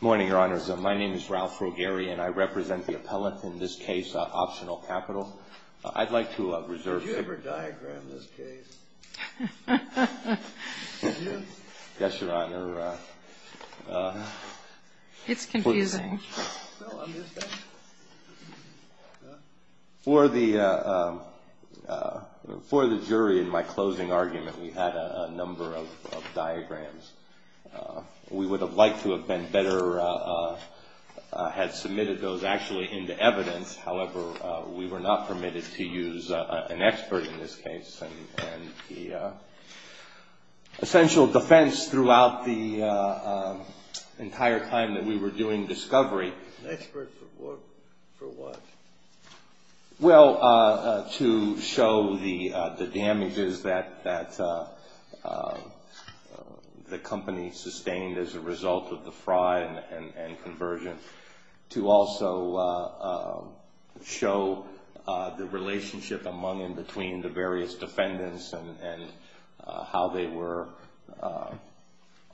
Morning, Your Honors. My name is Ralph Rogeri, and I represent the appellate in this case, Optional Capital. I'd like to reserve Did you ever diagram this case? Yes, Your Honor. It's confusing. For the jury in my closing argument, we had a number of diagrams. We would have liked to have been better, had submitted those actually into evidence. However, we were not permitted to use an expert in this case. And the essential defense throughout the entire time that we were doing discovery An expert for what? Well, to show the damages that the company sustained as a result of the fraud and conversion. To also show the relationship among and between the various defendants and how they were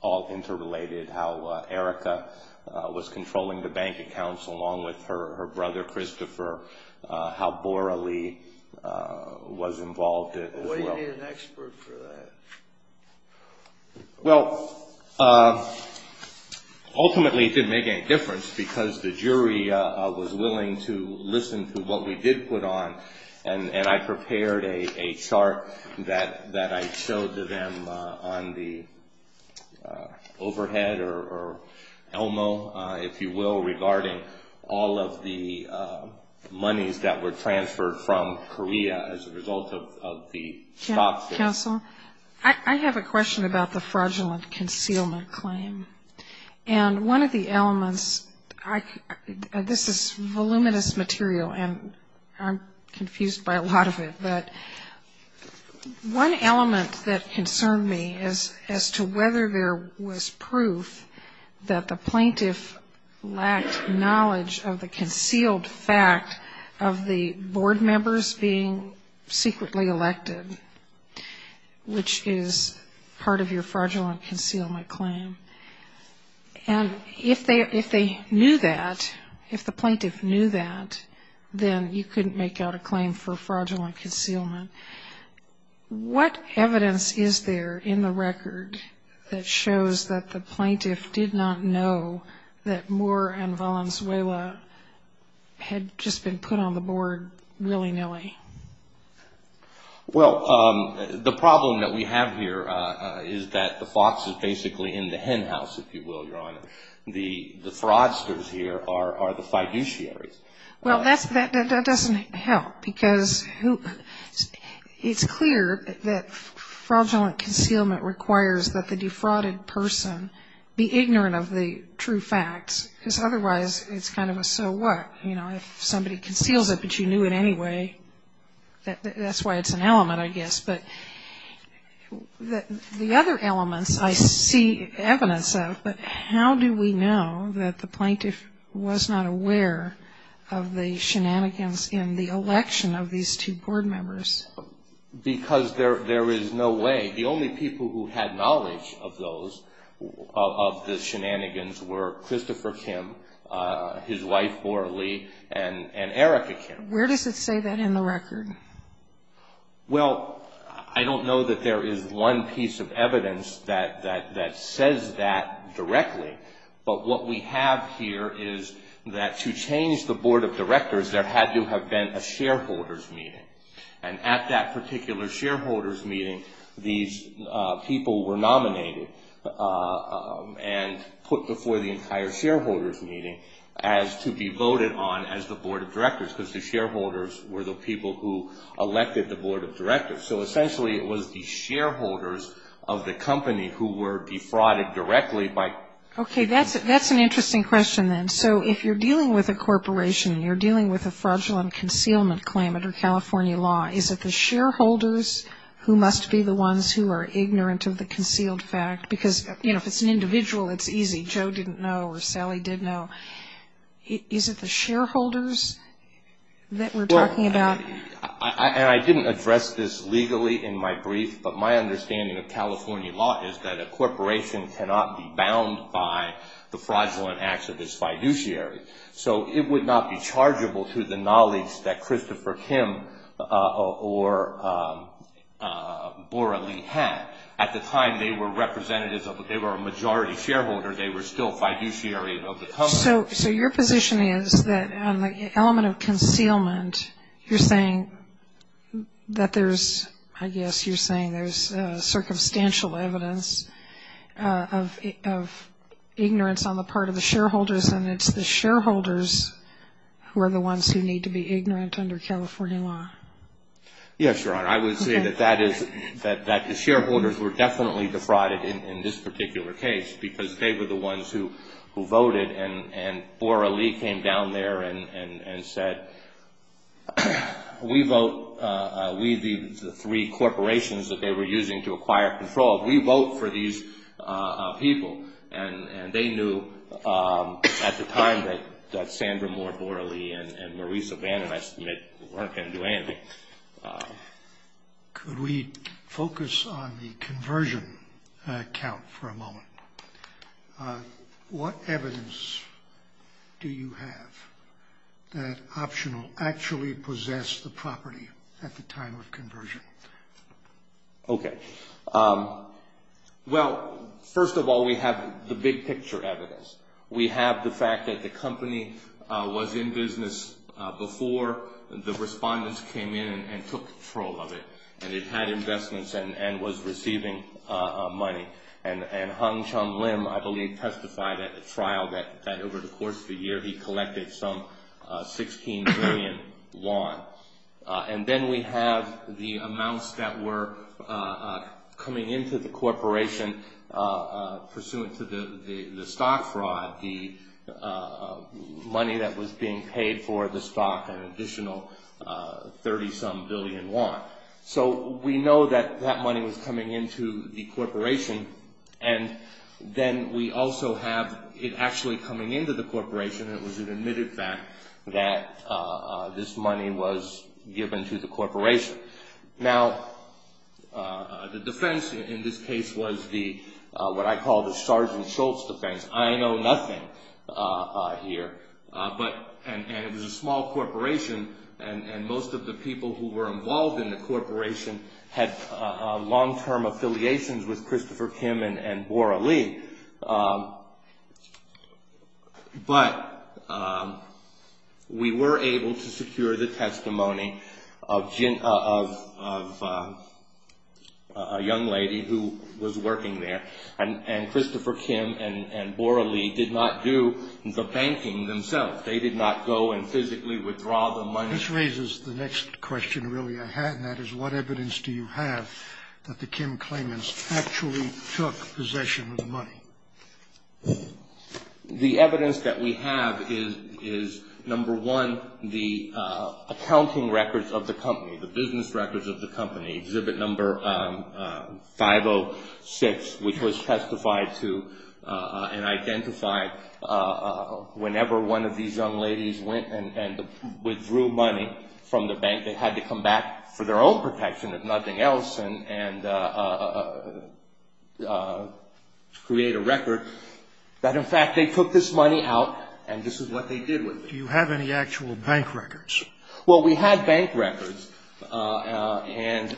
all interrelated. How Erica was controlling the bank accounts along with her brother Christopher. How Bora Lee was involved as well. Why do you need an expert for that? Well, ultimately it didn't make any difference because the jury was willing to listen to what we did put on. And I prepared a chart that I showed to them on the overhead or ELMO, if you will. Regarding all of the monies that were transferred from Korea as a result of the stop. Counsel, I have a question about the fraudulent concealment claim. And one of the elements, this is voluminous material and I'm confused by a lot of it. But one element that concerned me as to whether there was proof that the plaintiff lacked knowledge of the concealed fact of the board members being secretly elected. Which is part of your fraudulent concealment claim. And if they knew that, if the plaintiff knew that, then you couldn't make out a claim for fraudulent concealment. What evidence is there in the record that shows that the plaintiff did not know that Moore and Valenzuela had just been put on the board willy-nilly? Well, the problem that we have here is that the fox is basically in the hen house, if you will, Your Honor. The fraudsters here are the fiduciaries. Well, that doesn't help because it's clear that fraudulent concealment requires that the defrauded person be ignorant of the true facts. Because otherwise it's kind of a so what? If somebody conceals it but you knew it anyway, that's why it's an element, I guess. But the other elements I see evidence of, but how do we know that the plaintiff was not aware of the shenanigans in the election of these two board members? Because there is no way. The only people who had knowledge of those, of the shenanigans, were Christopher Kim, his wife Laura Lee, and Erica Kim. Where does it say that in the record? Well, I don't know that there is one piece of evidence that says that directly. But what we have here is that to change the board of directors, there had to have been a shareholders meeting. And at that particular shareholders meeting, these people were nominated and put before the entire shareholders meeting as to be voted on as the board of directors. Because the shareholders were the people who elected the board of directors. So essentially it was the shareholders of the company who were defrauded directly by. Okay. That's an interesting question then. So if you're dealing with a corporation, you're dealing with a fraudulent concealment claim under California law, is it the shareholders who must be the ones who are ignorant of the concealed fact? Because, you know, if it's an individual, it's easy. Joe didn't know or Sally did know. Is it the shareholders that we're talking about? Well, and I didn't address this legally in my brief, but my understanding of California law is that a corporation cannot be bound by the fraudulent acts of its fiduciary. So it would not be chargeable to the knowledge that Christopher Kim or Bora Lee had. At the time, they were representatives of a majority shareholder. They were still fiduciary of the company. So your position is that on the element of concealment, you're saying that there's ‑‑ I guess you're saying there's circumstantial evidence of ignorance on the part of the shareholders and it's the shareholders who are the ones who need to be ignorant under California law. Yes, Your Honor. I would say that the shareholders were definitely defrauded in this particular case because they were the ones who voted and Bora Lee came down there and said, we vote, we, the three corporations that they were using to acquire control, we vote for these people. And they knew at the time that Sandra Moore, Bora Lee, and Maurice O'Bannon, I submit, weren't going to do anything. Could we focus on the conversion count for a moment? What evidence do you have that Optional actually possessed the property at the time of conversion? Okay. Well, first of all, we have the big picture evidence. We have the fact that the company was in business before the respondents came in and took control of it. And it had investments and was receiving money. And Hung Chung Lim, I believe, testified at the trial that over the course of the year, he collected some 16 billion won. And then we have the amounts that were coming into the corporation pursuant to the stock fraud, the money that was being paid for the stock, an additional 30-some billion won. So we know that that money was coming into the corporation. And then we also have it actually coming into the corporation. It was an admitted fact that this money was given to the corporation. Now, the defense in this case was what I call the Sergeant Schultz defense. I know nothing here. And it was a small corporation. And most of the people who were involved in the corporation had long-term affiliations with Christopher Kim and Bora Lee. But we were able to secure the testimony of a young lady who was working there. And Christopher Kim and Bora Lee did not do the banking themselves. They did not go and physically withdraw the money. This raises the next question really I had, and that is, what evidence do you have that the Kim claimants actually took possession of the money? The evidence that we have is, number one, the accounting records of the company, the business records of the company, Exhibit No. 506, which was testified to and identified whenever one of these young ladies went and withdrew money from the bank. They had to come back for their own protection, if nothing else, and create a record that, in fact, they took this money out, and this is what they did with it. Do you have any actual bank records? Well, we had bank records, and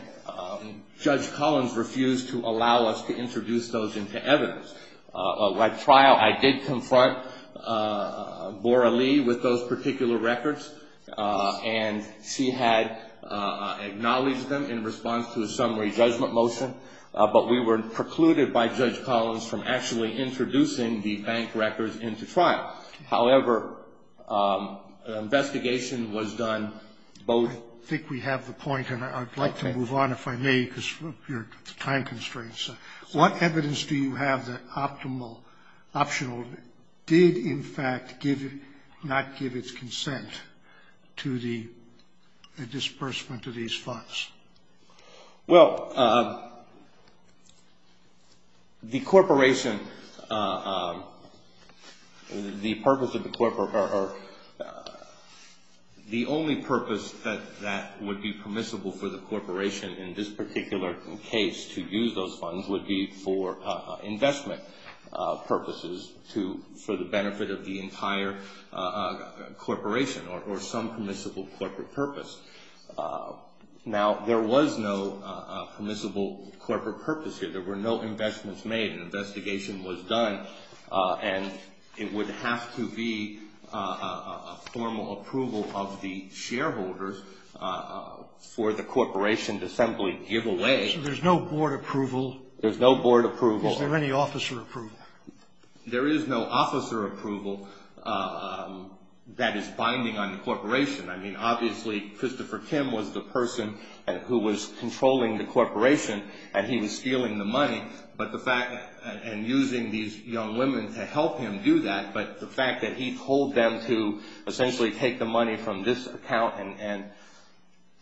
Judge Collins refused to allow us to introduce those into evidence. At trial, I did confront Bora Lee with those particular records, and she had acknowledged them in response to a summary judgment motion, but we were precluded by Judge Collins from actually introducing the bank records into trial. However, the investigation was done both. I think we have the point, and I'd like to move on, if I may, because of your time constraints. What evidence do you have that Optional did, in fact, not give its consent to the disbursement of these funds? Well, the corporation, the purpose of the corporation, the only purpose that would be permissible for the corporation in this particular case to use those funds would be for investment purposes for the benefit of the entire corporation or some permissible corporate purpose. Now, there was no permissible corporate purpose here. There were no investments made. An investigation was done, and it would have to be a formal approval of the shareholders for the corporation to simply give away. So there's no board approval? There's no board approval. Is there any officer approval? There is no officer approval that is binding on the corporation. I mean, obviously, Christopher Kim was the person who was controlling the corporation, and he was stealing the money, and using these young women to help him do that, but the fact that he told them to essentially take the money from this account and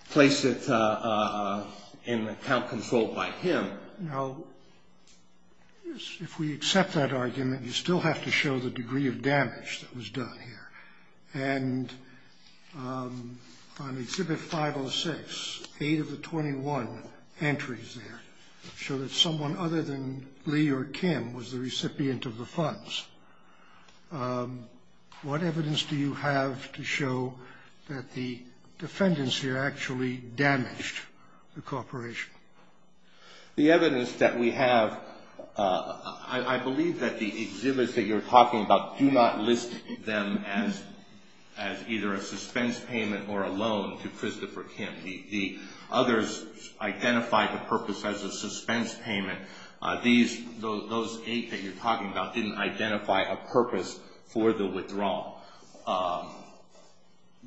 place it in an account controlled by him. Now, if we accept that argument, you still have to show the degree of damage that was done here. And on Exhibit 506, eight of the 21 entries there show that someone other than Lee or Kim was the recipient of the funds. What evidence do you have to show that the defendants here actually damaged the corporation? The evidence that we have, I believe that the exhibits that you're talking about do not list them as either a suspense payment or a loan to Christopher Kim. The others identify the purpose as a suspense payment. Those eight that you're talking about didn't identify a purpose for the withdrawal.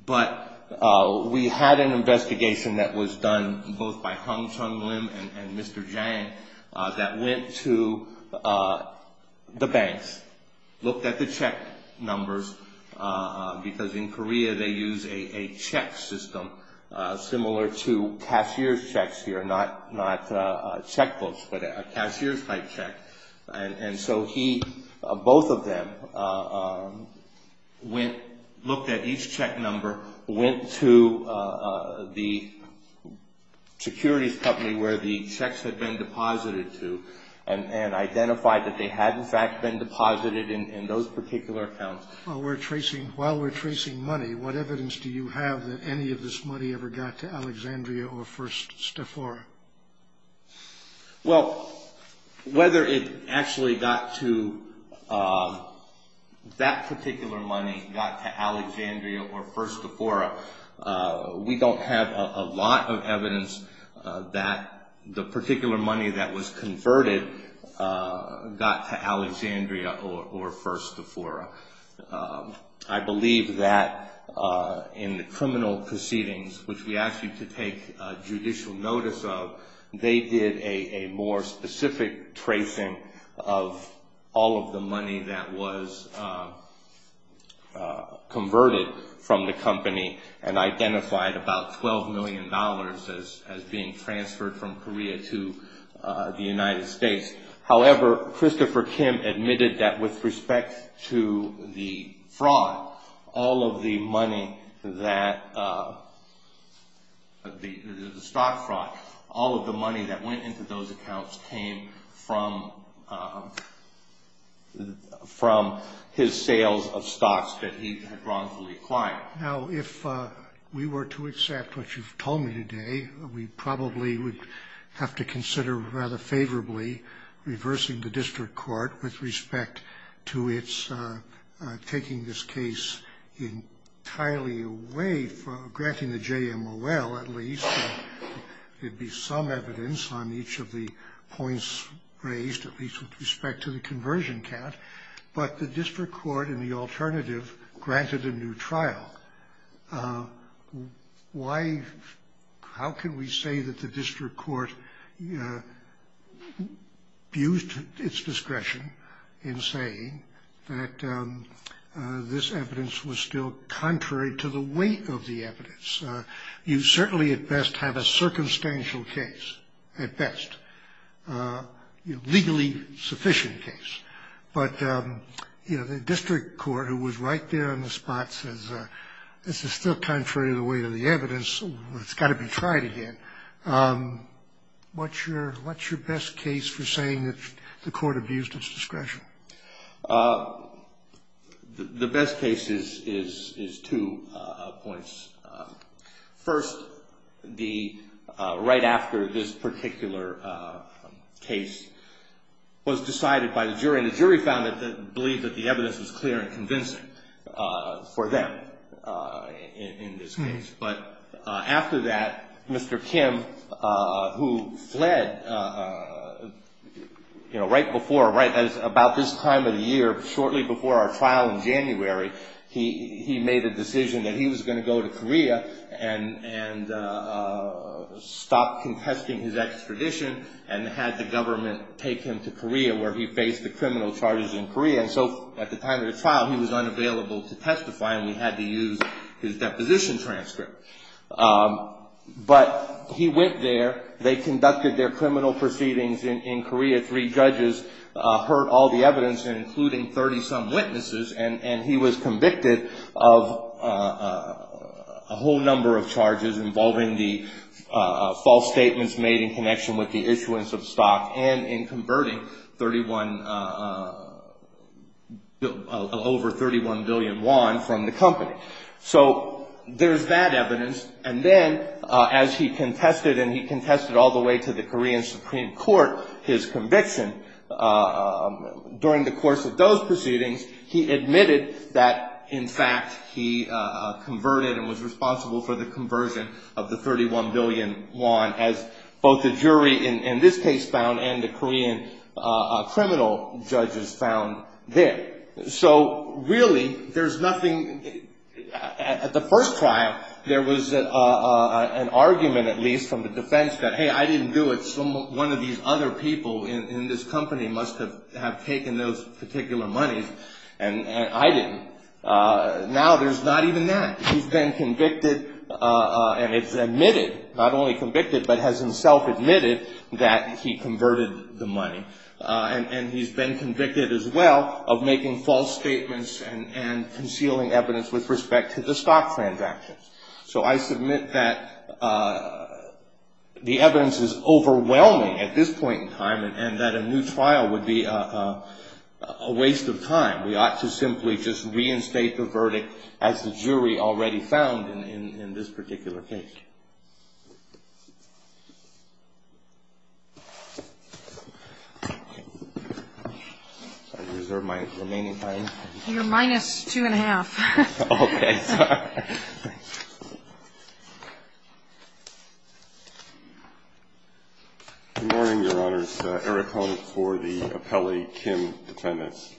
But we had an investigation that was done both by Hong Chung Lim and Mr. Jang that went to the banks, looked at the check numbers, because in Korea they use a check system similar to cashier's checks here, not checkbooks, but a cashier's type check. And so he, both of them, went, looked at each check number, went to the securities company where the checks had been deposited to and identified that they had, in fact, been deposited in those particular accounts. While we're tracing money, what evidence do you have that any of this money ever got to Alexandria or First Stafora? Well, whether it actually got to, that particular money got to Alexandria or First Stafora, we don't have a lot of evidence that the particular money that was converted got to Alexandria or First Stafora. I believe that in the criminal proceedings, which we asked you to take judicial notice of, they did a more specific tracing of all of the money that was converted from the company and identified about $12 million as being transferred from Korea to the United States. However, Christopher Kim admitted that with respect to the fraud, all of the money that, the stock fraud, all of the money that went into those accounts came from his sales of stocks that he had wrongfully acquired. Now, if we were to accept what you've told me today, we probably would have to consider rather favorably reversing the district court with respect to its taking this case entirely away, granting the JMOL at least. There'd be some evidence on each of the points raised, at least with respect to the conversion count. But the district court in the alternative granted a new trial. Why, how can we say that the district court used its discretion in saying that this evidence was still contrary to the weight of the evidence? You certainly at best have a circumstantial case at best, a legally sufficient case. But the district court, who was right there on the spot, says this is still contrary to the weight of the evidence. It's got to be tried again. What's your best case for saying that the court abused its discretion? The best case is two points. First, right after this particular case was decided by the jury. And the jury found that they believed that the evidence was clear and convincing for them in this case. But after that, Mr. Kim, who fled right before, right at about this time of the year, shortly before our trial in January, he made a decision that he was going to go to Korea and stop contesting his extradition and had the government take him to Korea, where he faced the criminal charges in Korea. And so at the time of the trial, he was unavailable to testify, and we had to use his deposition transcript. But he went there. They conducted their criminal proceedings in Korea. Three judges heard all the evidence, including 30-some witnesses. And he was convicted of a whole number of charges involving the false statements made in connection with the issuance of stock and in converting over 31 billion won from the company. So there's that evidence. And then, as he contested and he contested all the way to the Korean Supreme Court his conviction, during the course of those proceedings, he admitted that, in fact, he converted and was responsible for the conversion of the 31 billion won, as both the jury in this case found and the Korean criminal judges found there. So, really, there's nothing at the first trial. There was an argument, at least, from the defense that, hey, I didn't do it. One of these other people in this company must have taken those particular monies, and I didn't. Now there's not even that. He's been convicted, and it's admitted, not only convicted, but has himself admitted that he converted the money. And he's been convicted, as well, of making false statements and concealing evidence with respect to the stock transactions. So I submit that the evidence is overwhelming at this point in time and that a new trial would be a waste of time. We ought to simply just reinstate the verdict as the jury already found in this particular case. I reserve my remaining time. You're minus two and a half. Okay. Good morning, Your Honors. Eric Hone is for the appellee, Kim Defendants.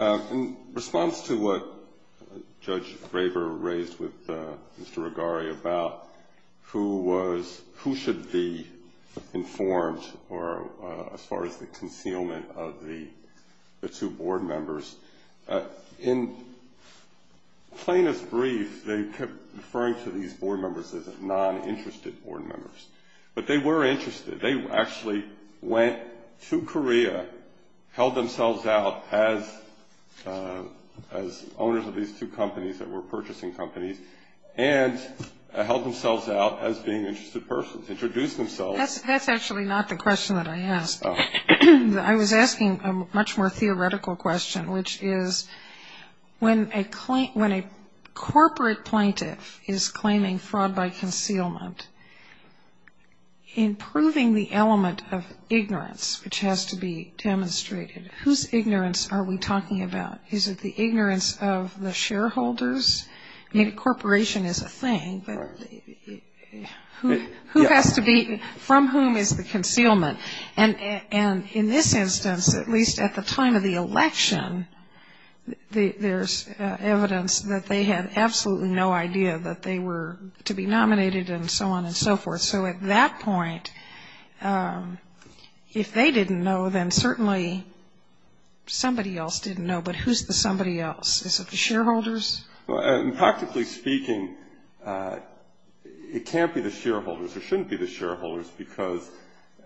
In response to what Judge Graber raised with Mr. Regari about who should be informed as far as the concealment of the two board members, in plainest brief, they kept referring to these board members as non-interested board members. But they were interested. They actually went to Korea, held themselves out as owners of these two companies that were purchasing companies, and held themselves out as being interested persons, introduced themselves. That's actually not the question that I asked. I was asking a much more theoretical question, which is when a corporate plaintiff is claiming fraud by concealment, in proving the element of ignorance which has to be demonstrated, whose ignorance are we talking about? Is it the ignorance of the shareholders? I mean, a corporation is a thing, but who has to be, from whom is the concealment? And in this instance, at least at the time of the election, there's evidence that they had absolutely no idea that they were to be nominated and so on and so forth. So at that point, if they didn't know, then certainly somebody else didn't know. But who's the somebody else? Is it the shareholders? Practically speaking, it can't be the shareholders. It shouldn't be the shareholders, because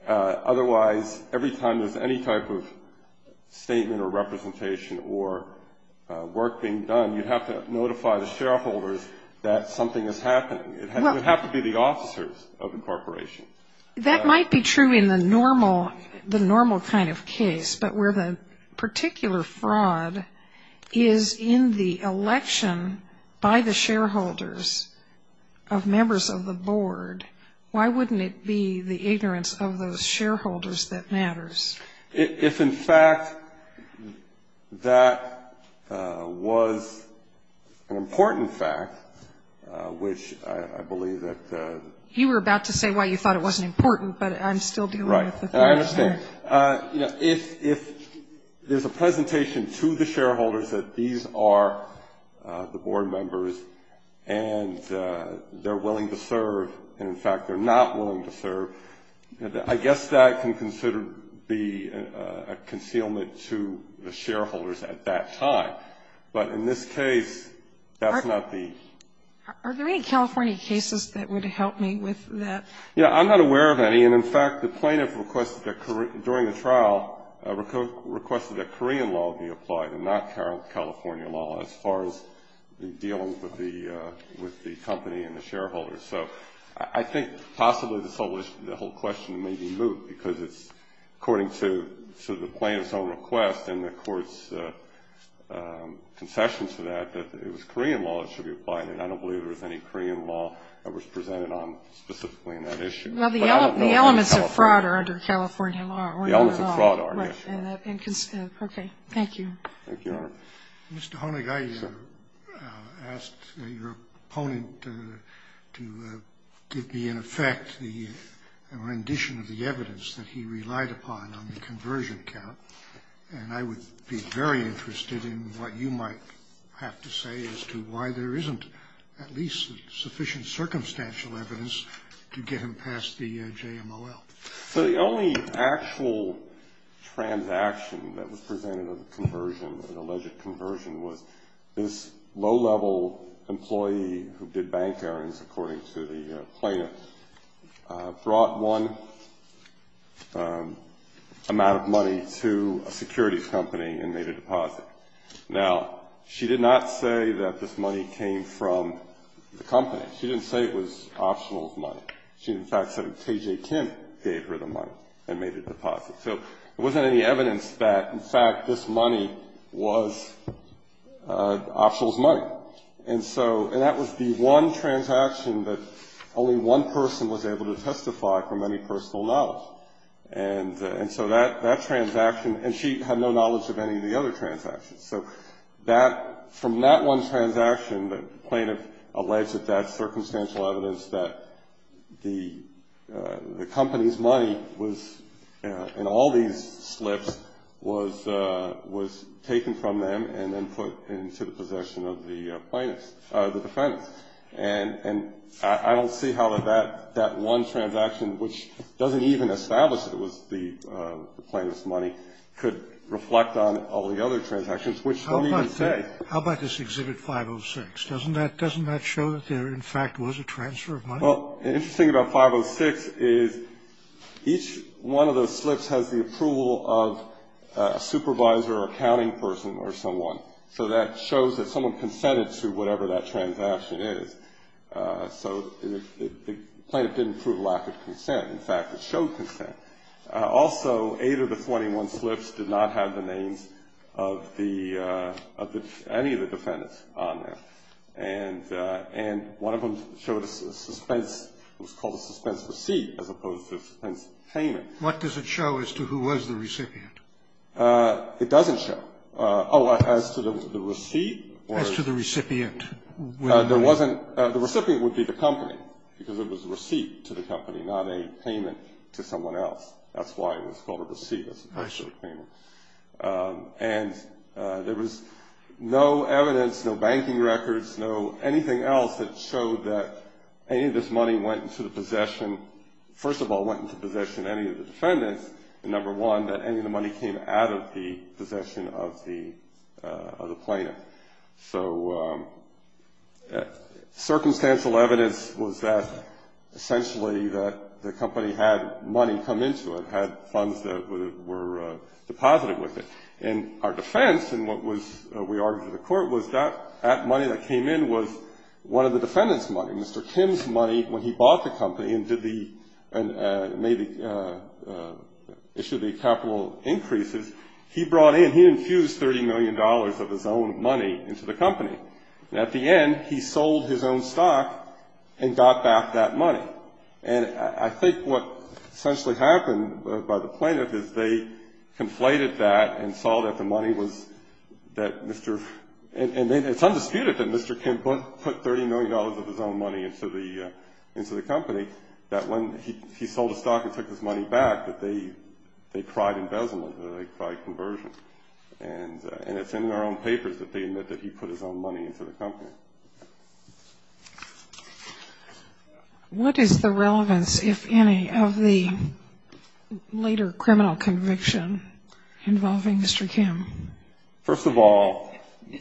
otherwise, every time there's any type of statement or representation or work being done, you have to notify the shareholders that something is happening. It would have to be the officers of the corporation. That might be true in the normal kind of case, but where the particular fraud is in the election by the shareholders of members of the board, why wouldn't it be the ignorance of those shareholders that matters? If, in fact, that was an important fact, which I believe that the ---- You were about to say why you thought it wasn't important, but I'm still dealing with the question. Right. You know, if there's a presentation to the shareholders that these are the board members and they're willing to serve and, in fact, they're not willing to serve, I guess that can consider the concealment to the shareholders at that time. But in this case, that's not the ---- Are there any California cases that would help me with that? Yeah, I'm not aware of any. And, in fact, the plaintiff requested that during the trial requested that Korean law be applied and not California law as far as dealing with the company and the shareholders. So I think possibly the whole question may be moved because it's according to the plaintiff's own request and the Court's concession to that, that it was Korean law that should be applied, and I don't believe there was any Korean law that was presented on specifically in that issue. Well, the elements of fraud are under California law. The elements of fraud are, yes. Okay. Thank you. Thank you, Your Honor. Mr. Honig, I asked your opponent to give me, in effect, the rendition of the evidence that he relied upon on the conversion count, and I would be very interested in what you might have to say as to why there isn't at least sufficient circumstantial evidence to get him past the JMOL. So the only actual transaction that was presented on the conversion, the alleged conversion, was this low-level employee who did bank errands, according to the plaintiff, brought one amount of money to a securities company and made a deposit. Now, she did not say that this money came from the company. She didn't say it was optional money. She, in fact, said that T.J. Kim gave her the money and made a deposit. So there wasn't any evidence that, in fact, this money was optional money. And so that was the one transaction that only one person was able to testify from any personal knowledge. And so that transaction, and she had no knowledge of any of the other transactions. So from that one transaction, the plaintiff alleged that that circumstantial evidence, that the company's money was in all these slips, was taken from them and then put into the possession of the plaintiff's, the defendant's. And I don't see how that one transaction, which doesn't even establish that it was the plaintiff's money, could reflect on all the other transactions, which don't even say. Scalia. How about this Exhibit 506? Doesn't that show that there, in fact, was a transfer of money? Well, the interesting thing about 506 is each one of those slips has the approval of a supervisor or accounting person or someone. So that shows that someone consented to whatever that transaction is. So the plaintiff didn't prove lack of consent. In fact, it showed consent. Also, eight of the 21 slips did not have the names of the any of the defendants on them. And one of them showed a suspense. It was called a suspense receipt as opposed to a suspense payment. What does it show as to who was the recipient? It doesn't show. Oh, as to the receipt? As to the recipient. The recipient would be the company, because it was a receipt to the company, not a payment to someone else. That's why it was called a receipt as opposed to a payment. And there was no evidence, no banking records, no anything else that showed that any of this money went into the possession of any of the defendants. And number one, that any of the money came out of the possession of the plaintiff. So circumstantial evidence was that essentially the company had money come into it, had funds that were deposited with it. And our defense in what we argued to the court was that that money that came in was one of the defendants' money, and Mr. Kim's money when he bought the company and issued the capital increases, he brought in, he infused $30 million of his own money into the company. And at the end, he sold his own stock and got back that money. And I think what essentially happened by the plaintiff is they conflated that and saw that the money was that Mr. And it's undisputed that Mr. Kim put $30 million of his own money into the company, that when he sold his stock and took his money back, that they tried embezzlement, that they tried conversion. And it's in their own papers that they admit that he put his own money into the company. What is the relevance, if any, of the later criminal conviction involving Mr. Kim? First of all,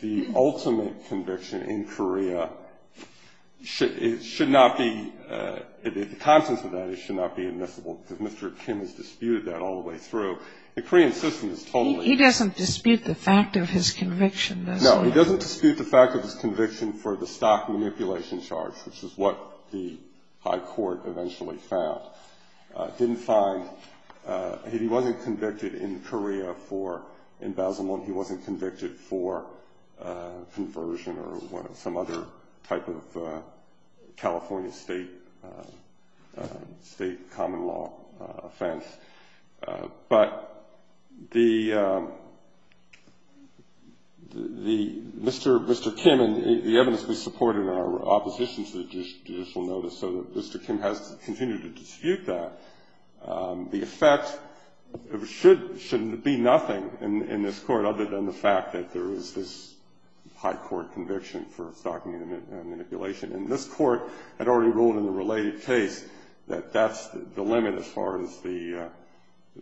the ultimate conviction in Korea should not be, in the context of that, it should not be admissible, because Mr. Kim has disputed that all the way through. The Korean system is totally- He doesn't dispute the fact of his conviction, does he? No, he doesn't dispute the fact of his conviction for the stock manipulation charge, which is what the high court eventually found, didn't find. He wasn't convicted in Korea for embezzlement. He wasn't convicted for conversion or some other type of California state common law offense. But Mr. Kim, and the evidence we supported in our opposition to the judicial notice, so Mr. Kim has continued to dispute that. The effect should be nothing in this court other than the fact that there is this high court conviction for stock manipulation. And this court had already ruled in the related case that that's the limit as far as the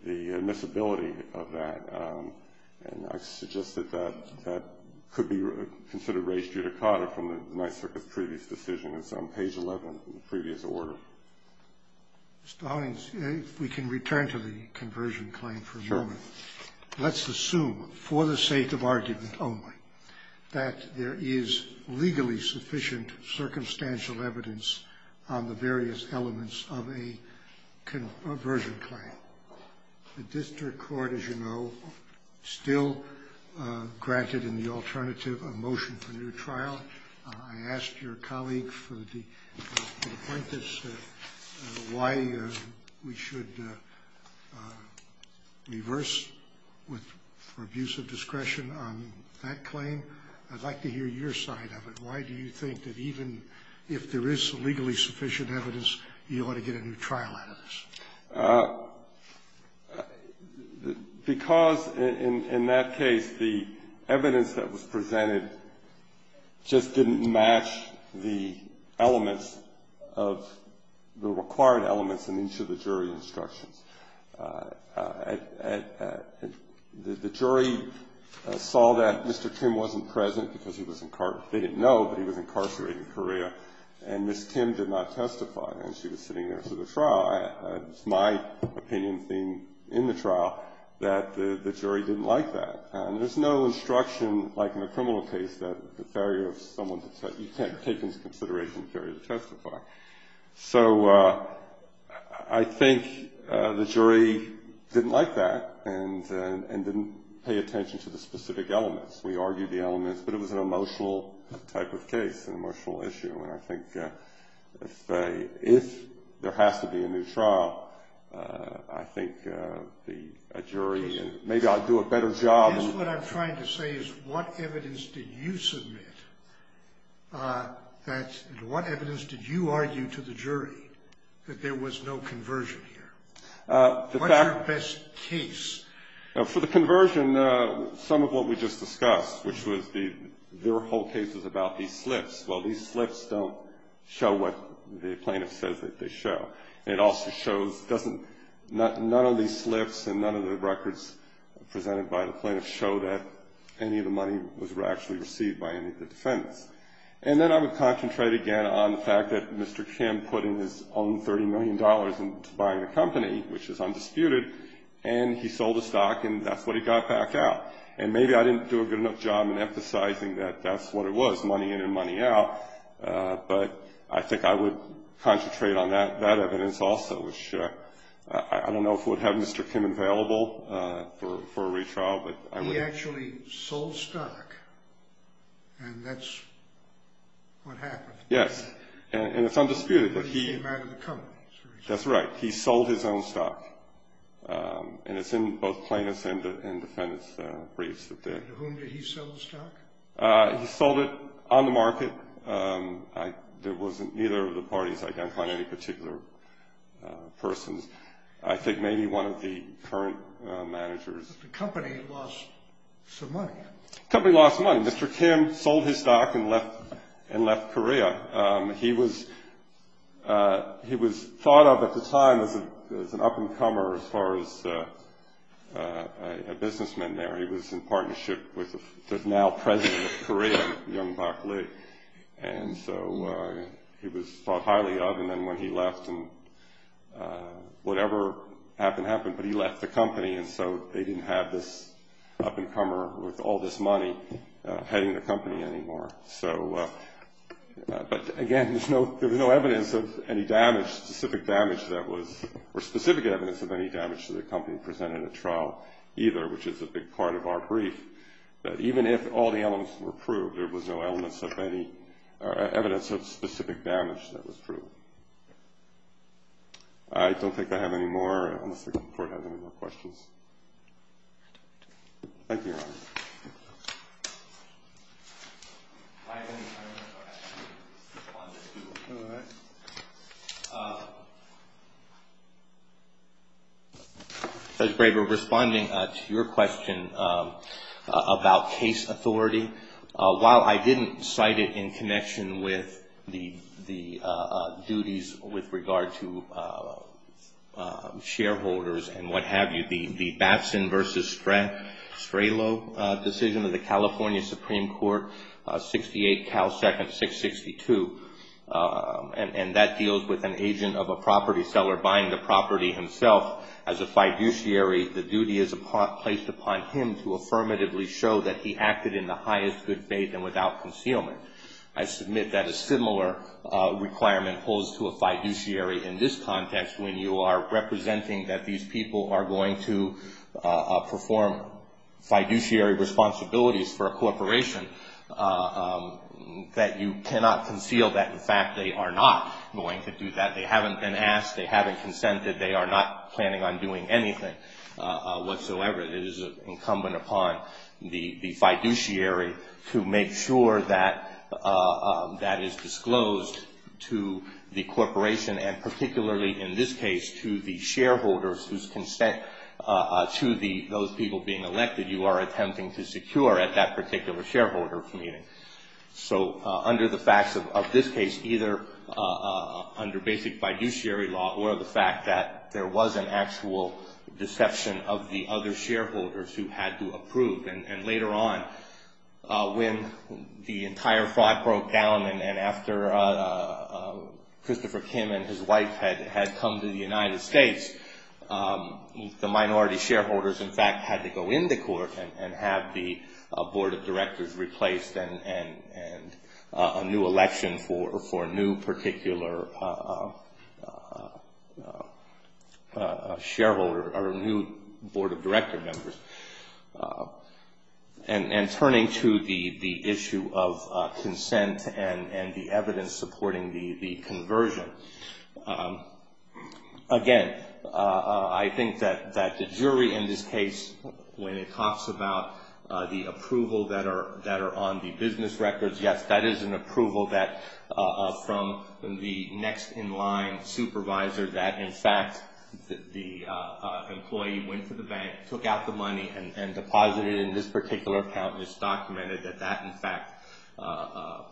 admissibility of that. And I suggested that that could be considered raised judicata from the Ninth Circuit's previous decision. It's on page 11 of the previous order. Mr. Honig, if we can return to the conversion claim for a moment. Sure. Let's assume, for the sake of argument only, that there is legally sufficient circumstantial evidence on the various elements of a conversion claim. The district court, as you know, still granted in the alternative a motion for new trial. I asked your colleague for the point as to why we should reverse for abuse of discretion on that claim. I'd like to hear your side of it. Why do you think that even if there is legally sufficient evidence, you ought to get a new trial out of this? Because in that case, the evidence that was presented just didn't match the elements of the required elements in each of the jury instructions. The jury saw that Mr. Tim wasn't present because he was incarcerated. They didn't know that he was incarcerated in Korea. And Ms. Tim did not testify. And she was sitting there for the trial. It's my opinion in the trial that the jury didn't like that. And there's no instruction, like in a criminal case, that you can't take into consideration the failure to testify. So I think the jury didn't like that and didn't pay attention to the specific elements. We argued the elements, but it was an emotional type of case, an emotional issue. And I think if there has to be a new trial, I think a jury and maybe I'll do a better job. I guess what I'm trying to say is what evidence did you submit and what evidence did you argue to the jury that there was no conversion here? What's your best case? For the conversion, some of what we just discussed, which was there were whole cases about these slips. Well, these slips don't show what the plaintiff says that they show. And it also shows none of these slips and none of the records presented by the plaintiff show that any of the money was actually received by any of the defendants. And then I would concentrate again on the fact that Mr. Kim put in his own $30 million into buying the company, which is undisputed, and he sold the stock and that's what he got back out. And maybe I didn't do a good enough job in emphasizing that that's what it was, money in and money out. But I think I would concentrate on that evidence also, which I don't know if we'd have Mr. Kim available for a retrial, but I would. He actually sold stock and that's what happened. Yes, and it's undisputed. But he came out of the company. That's right. He sold his own stock, and it's in both plaintiffs' and defendants' briefs. And to whom did he sell the stock? He sold it on the market. There wasn't either of the parties identified, any particular persons. I think maybe one of the current managers. But the company lost some money. The company lost money. Mr. Kim sold his stock and left Korea. He was thought of at the time as an up-and-comer as far as a businessman there. He was in partnership with the now president of Korea, Yong Bak Lee. And so he was thought highly of. And then when he left, whatever happened happened, but he left the company. And so they didn't have this up-and-comer with all this money heading the company anymore. But, again, there's no evidence of any damage, specific damage that was or specific evidence of any damage to the company presented at trial either, which is a big part of our brief, that even if all the elements were proved, there was no evidence of specific damage that was proved. I don't think I have any more. I don't think the Court has any more questions. Thank you, Your Honor. Judge Braver, responding to your question about case authority, while I didn't cite it in connection with the duties with regard to shareholders and what have you, the Batson v. Strelow decision of the California Supreme Court, 68 Cal Second 662, and that deals with an agent of a property seller buying the property himself as a fiduciary, the duty is placed upon him to affirmatively show that he acted in the highest good faith and without concealment. I submit that a similar requirement holds to a fiduciary in this context when you are representing that these people are going to perform fiduciary responsibilities for a corporation that you cannot conceal that, in fact, they are not going to do that. They haven't been asked. They haven't consented. They are not planning on doing anything whatsoever. It is incumbent upon the fiduciary to make sure that that is disclosed to the corporation and particularly in this case to the shareholders whose consent to those people being elected you are attempting to secure at that particular shareholder meeting. So under the facts of this case, either under basic fiduciary law or the fact that there was an actual deception of the other shareholders who had to approve, and later on when the entire fraud broke down and after Christopher Kim and his wife had come to the United States, the minority shareholders in fact had to go into court and have the board of directors replaced and a new election for a new particular shareholder or a new board of director members. And turning to the issue of consent and the evidence supporting the conversion, again, I think that the jury in this case when it talks about the approval that are on the business records, yes, that is an approval from the next in line supervisor that in fact the employee went to the bank, took out the money and deposited it in this particular account and it's documented that that in fact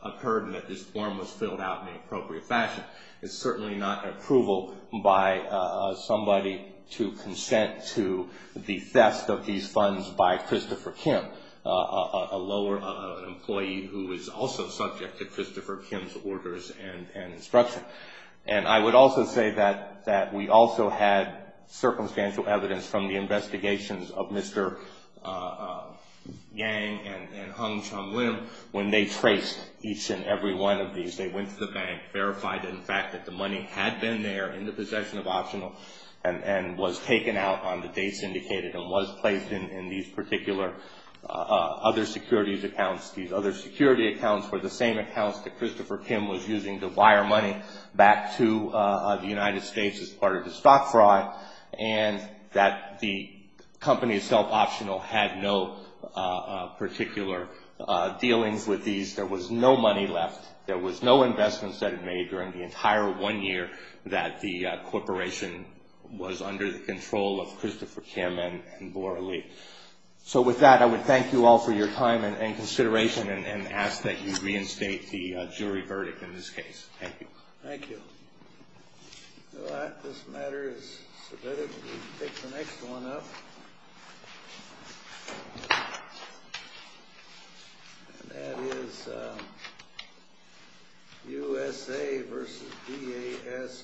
occurred and that this form was filled out in an appropriate fashion. It's certainly not approval by somebody to consent to the theft of these funds by Christopher Kim, an employee who is also subject to Christopher Kim's orders and instruction. And I would also say that we also had circumstantial evidence from the investigations of Mr. Yang and Hung Chung Lim when they traced each and every one of these. They went to the bank, verified in fact that the money had been there in the possession of optional and was taken out on the dates indicated and was placed in these particular other securities accounts. These other security accounts were the same accounts that Christopher Kim was using to wire money back to the United States as part of the stock fraud and that the company itself optional had no particular dealings with these. There was no money left. There was no investments that it made during the entire one year that the corporation was under the control of Christopher Kim and Bora Lee. So with that, I would thank you all for your time and consideration and ask that you reinstate the jury verdict in this case. Thank you. Thank you. With that, this matter is submitted. We can pick the next one up. And that is USA versus DAS Court.